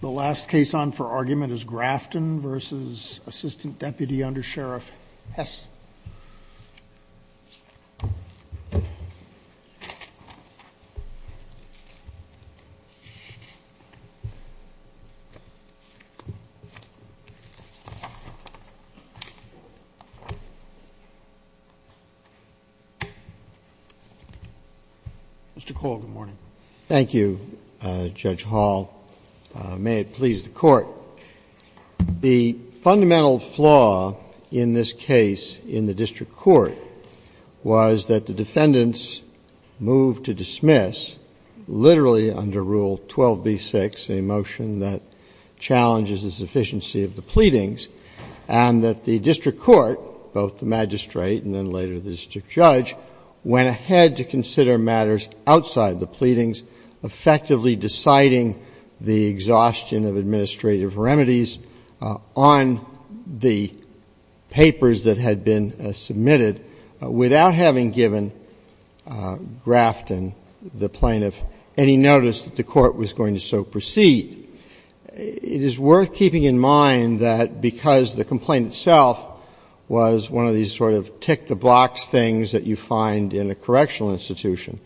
The last case on for argument is Grafton v. Assistant Deputy Under Sheriff Hesse. Mr. Cole, good morning. Thank you, Judge Hall. May it please the Court. The fundamental flaw in this case in the district court was that the defendants moved to dismiss, literally under Rule 12b-6, a motion that challenges the sufficiency of the pleadings, and that the district court, both the magistrate and then later the district judge, went ahead to consider matters outside the pleadings, effectively deciding the exhaustion of administrative remedies on the papers that had been submitted without having given Grafton, the plaintiff, any notice that the Court was going to so proceed. It is worth keeping in mind that because the complaint itself was one of these sort that you find in a correctional institution,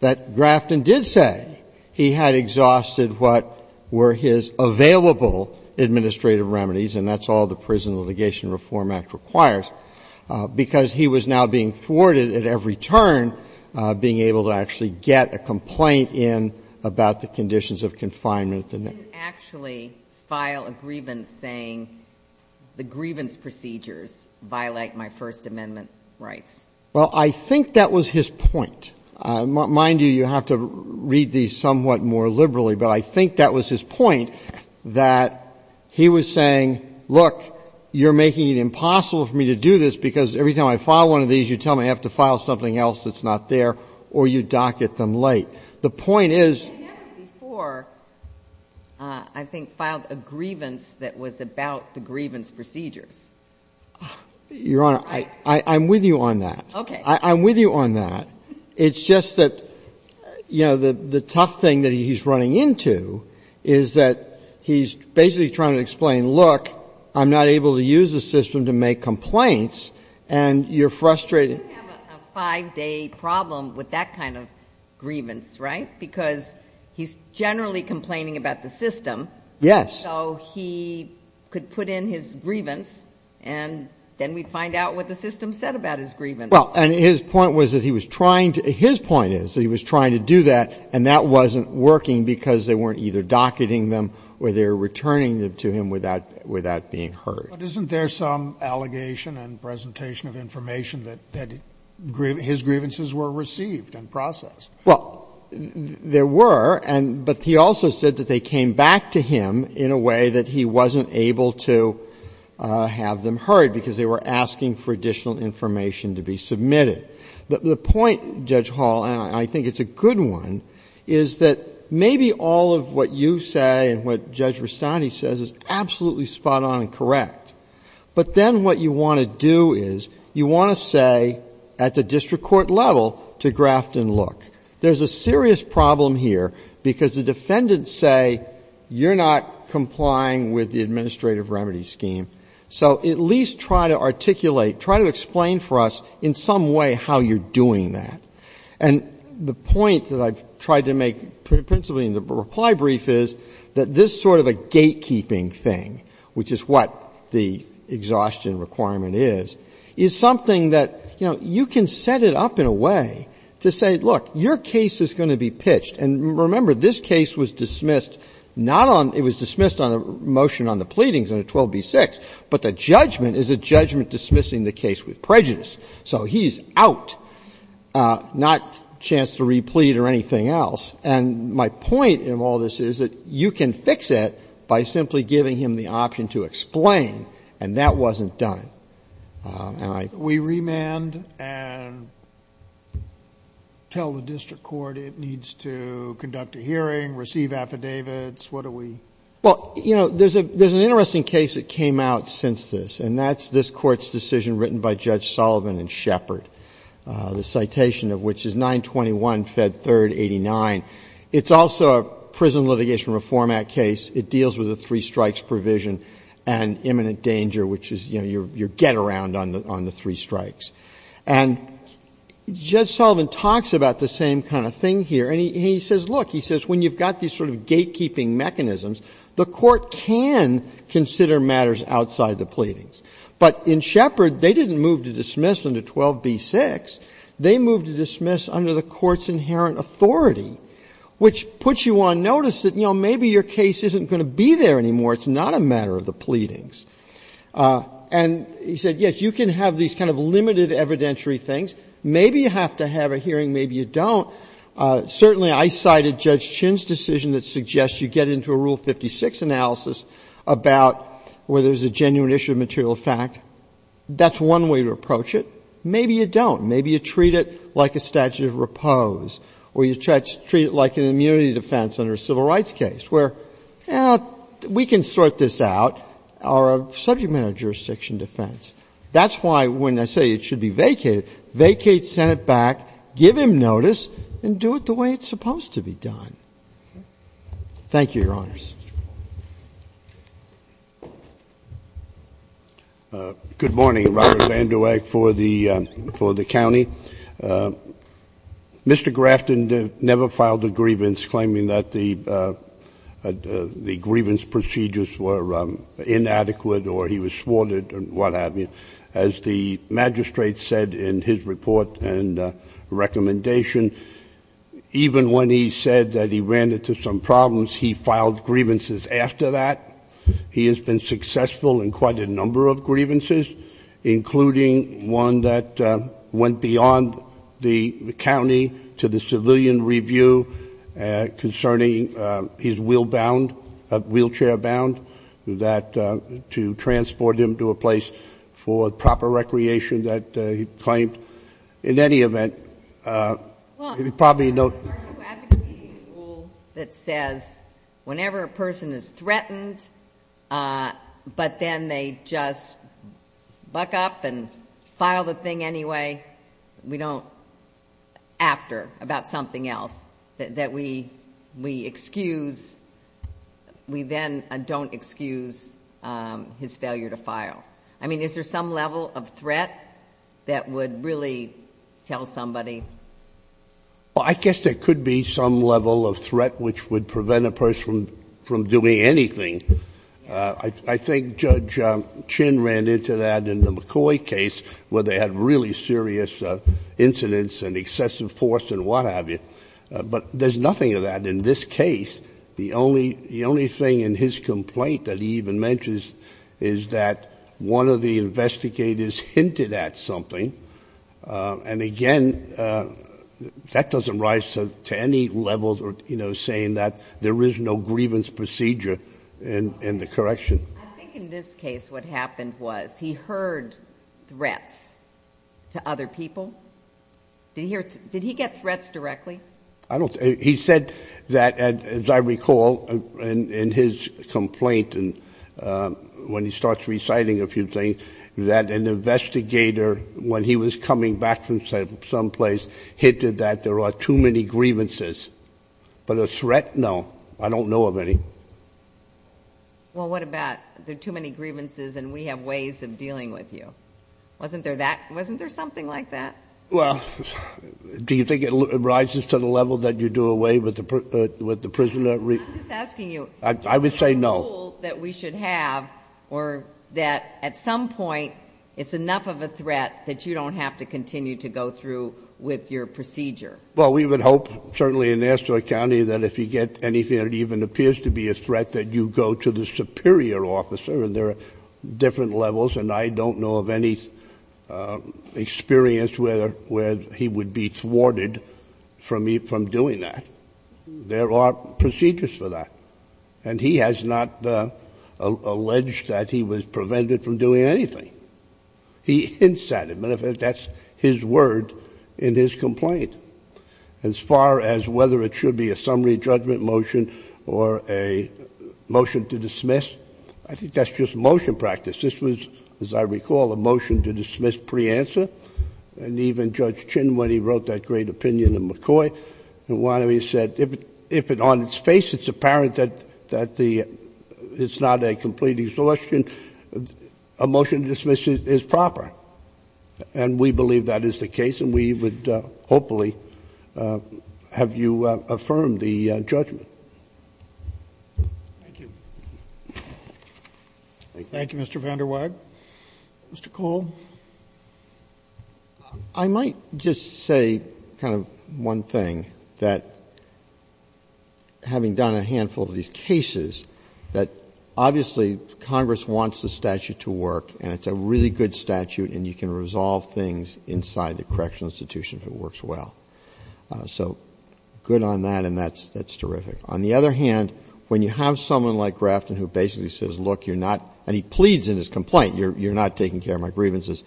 that Grafton did say he had exhausted what were his available administrative remedies, and that's all the Prison Litigation Reform Act requires, because he was now being thwarted at every turn, being able to actually get a complaint in about the conditions of confinement. He didn't actually file a grievance saying the grievance procedures violate my First Amendment rights. Well, I think that was his point. Mind you, you have to read these somewhat more liberally, but I think that was his point, that he was saying, look, you're making it impossible for me to do this because every time I file one of these, you tell me I have to file something else that's not there, or you dock at them late. The point is. I never before, I think, filed a grievance that was about the grievance procedures. Your Honor, I'm with you on that. Okay. I'm with you on that. It's just that, you know, the tough thing that he's running into is that he's basically trying to explain, look, I'm not able to use the system to make complaints, and you're frustrated. We don't have a five-day problem with that kind of grievance, right? Because he's generally complaining about the system. Yes. So he could put in his grievance, and then we'd find out what the system said about his grievance. Well, and his point was that he was trying to do that, and that wasn't working because they weren't either docketing them or they were returning them to him without being heard. But isn't there some allegation and presentation of information that his grievances were received and processed? Well, there were, but he also said that they came back to him in a way that he wasn't able to have them heard because they were asking for additional information to be submitted. The point, Judge Hall, and I think it's a good one, is that maybe all of what you say and what Judge Rustandy says is absolutely spot-on and correct. But then what you want to do is you want to say at the district court level to graft and look. There's a serious problem here because the defendants say you're not complying with the administrative remedy scheme, so at least try to articulate, try to explain for us in some way how you're doing that. And the point that I've tried to make principally in the reply brief is that this sort of a gatekeeping thing, which is what the exhaustion requirement is, is something that, you know, you can set it up in a way to say, look, your case is going to be pitched. And remember, this case was dismissed not on — it was dismissed on a motion on the pleadings under 12b-6, but the judgment is a judgment dismissing the case with prejudice. So he's out, not a chance to replead or anything else. And my point in all this is that you can fix it by simply giving him the option to explain, and that wasn't done. And I — We remand and tell the district court it needs to conduct a hearing, receive affidavits. What do we — Well, you know, there's an interesting case that came out since this, and that's this Court's decision written by Judge Sullivan and Shepard, the citation of which is 921 Fed 3rd 89. It's also a Prison Litigation Reform Act case. It deals with a three-strikes provision and imminent danger, which is, you know, your get-around on the three strikes. And Judge Sullivan talks about the same kind of thing here, and he says, look, he says when you've got these sort of gatekeeping mechanisms, the Court can consider matters outside the pleadings. But in Shepard, they didn't move to dismiss under 12b-6. They moved to dismiss under the Court's inherent authority, which puts you on notice that, you know, maybe your case isn't going to be there anymore, it's not a matter of the pleadings. And he said, yes, you can have these kind of limited evidentiary things. Maybe you have to have a hearing, maybe you don't. Certainly, I cited Judge Chinn's decision that suggests you get into a Rule 56 analysis about whether there's a genuine issue of material fact. That's one way to approach it. Maybe you don't. Maybe you treat it like a statute of repose, or you treat it like an immunity defense under a civil rights case, where, you know, we can sort this out, or a subject-matter jurisdiction defense. That's why when I say it should be vacated, vacate Senate back, give him notice, and do it the way it's supposed to be done. Thank you, Your Honors. Mr. Paul. Good morning. Robert Vanderweg for the county. Mr. Grafton never filed a grievance claiming that the grievance procedures were inadequate or he was swarded or what have you. As the magistrate said in his report and recommendation, even when he said that he ran into some problems, he filed grievances after that. He has been successful in quite a number of grievances, including one that went beyond the county to the civilian review concerning his wheelchair bound to transport him to a school. In any event, you probably know. Well, are you advocating a rule that says whenever a person is threatened, but then they just buck up and file the thing anyway, we don't after about something else, that we excuse, we then don't excuse his failure to file? I mean, is there some level of threat that would really tell somebody? Well, I guess there could be some level of threat which would prevent a person from doing anything. I think Judge Chin ran into that in the McCoy case where they had really serious incidents and excessive force and what have you. But there's nothing of that in this case. The only thing in his complaint that he even mentions is that one of the investigators hinted at something. And again, that doesn't rise to any level saying that there is no grievance procedure in the correction. I think in this case what happened was he heard threats to other people. Did he get threats directly? He said that, as I recall, in his complaint when he starts reciting a few things, that an investigator when he was coming back from someplace hinted that there are too many grievances. But a threat? No. I don't know of any. Well, what about there are too many grievances and we have ways of dealing with you? Wasn't there something like that? Well, do you think it rises to the level that you do away with the prisoner? I'm just asking you. I would say no. Is there a rule that we should have or that at some point it's enough of a threat that you don't have to continue to go through with your procedure? Well, we would hope certainly in Astoria County that if you get anything that even appears to be a threat that you go to the superior officer. And there are different levels. And I don't know of any experience where he would be thwarted from doing that. There are procedures for that. And he has not alleged that he was prevented from doing anything. He hints at it. Matter of fact, that's his word in his complaint. As far as whether it should be a summary judgment motion or a motion to dismiss, I think that's just motion practice. This was, as I recall, a motion to dismiss pre-answer. And even Judge Chin, when he wrote that great opinion in McCoy, said if on its face it's apparent that it's not a complete exhaustion, a motion to dismiss is proper. And we believe that is the case. And we would hopefully have you affirm the judgment. Thank you. Thank you, Mr. VanderWeg. Mr. Cole. I might just say kind of one thing, that having done a handful of these cases, that obviously Congress wants the statute to work. And it's a really good statute. And you can resolve things inside the correctional institution if it works well. So good on that. And that's terrific. On the other hand, when you have someone like Grafton who basically says, look, you're not, and he pleads in his complaint, you're not taking care of my grievances,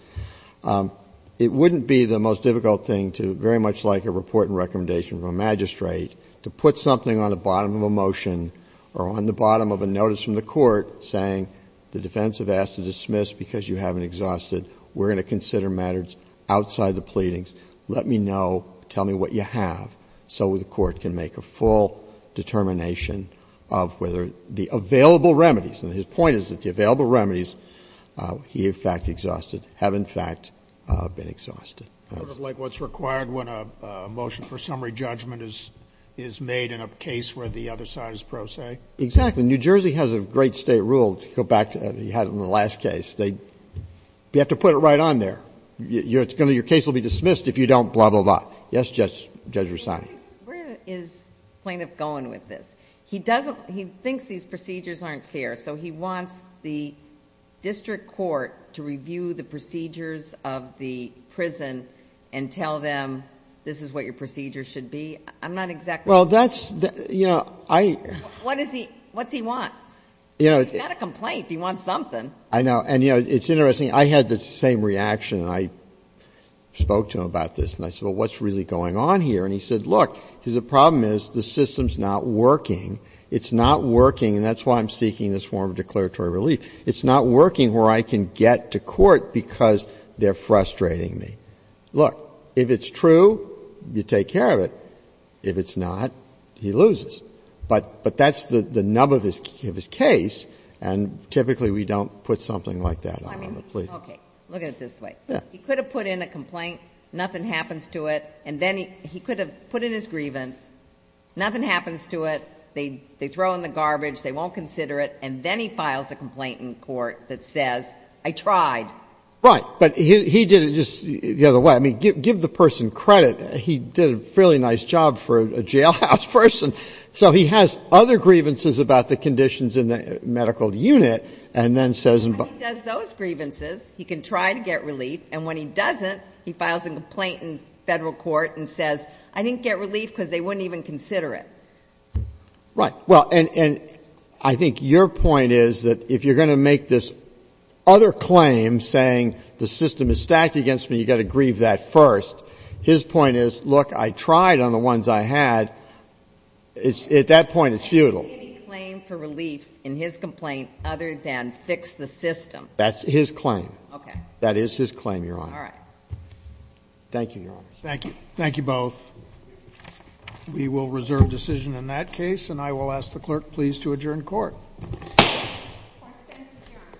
it wouldn't be the most difficult thing to, very much like a report and recommendation from a magistrate, to put something on the bottom of a motion or on the bottom of a notice from the court saying the defense has asked to dismiss because you haven't exhausted, we're going to consider matters outside the pleadings, let me know, tell me what you have, so the court can make a full determination of whether the available remedies, and his point is that the available remedies he in fact exhausted have in fact been exhausted. Sort of like what's required when a motion for summary judgment is made in a case where the other side is pro se? Exactly. New Jersey has a great state rule to go back to. You had it in the last case. You have to put it right on there. Your case will be dismissed if you don't blah, blah, blah. Yes, Judge Rosano. Where is the plaintiff going with this? He thinks these procedures aren't fair, so he wants the district court to review the procedures of the prison and tell them this is what your procedures should be? I'm not exactly sure. Well, that's, you know, I. What's he want? He's got a complaint. He wants something. I know. And, you know, it's interesting. I had the same reaction. I spoke to him about this, and I said, well, what's really going on here? And he said, look, the problem is the system's not working. It's not working, and that's why I'm seeking this form of declaratory relief. It's not working where I can get to court because they're frustrating me. Look, if it's true, you take care of it. If it's not, he loses. But that's the nub of his case. And typically we don't put something like that on the plea. Okay. Look at it this way. He could have put in a complaint, nothing happens to it, and then he could have put in his grievance, nothing happens to it, they throw in the garbage, they won't consider it, and then he files a complaint in court that says, I tried. Right. But he did it just the other way. I mean, give the person credit. He did a fairly nice job for a jailhouse person. So he has other grievances about the conditions in the medical unit, and then says in both. When he does those grievances, he can try to get relief, and when he doesn't, he files a complaint in Federal court and says, I didn't get relief because they wouldn't even consider it. Right. Well, and I think your point is that if you're going to make this other claim saying the system is stacked against me, you've got to grieve that first, his point is, look, I tried on the ones I had. At that point, it's futile. Any claim for relief in his complaint other than fix the system? That's his claim. Okay. That is his claim, Your Honor. All right. Thank you, Your Honor. Thank you. Thank you both. We will reserve decision in that case, and I will ask the clerk please to adjourn court. Court is adjourned. Thank you. Thank you.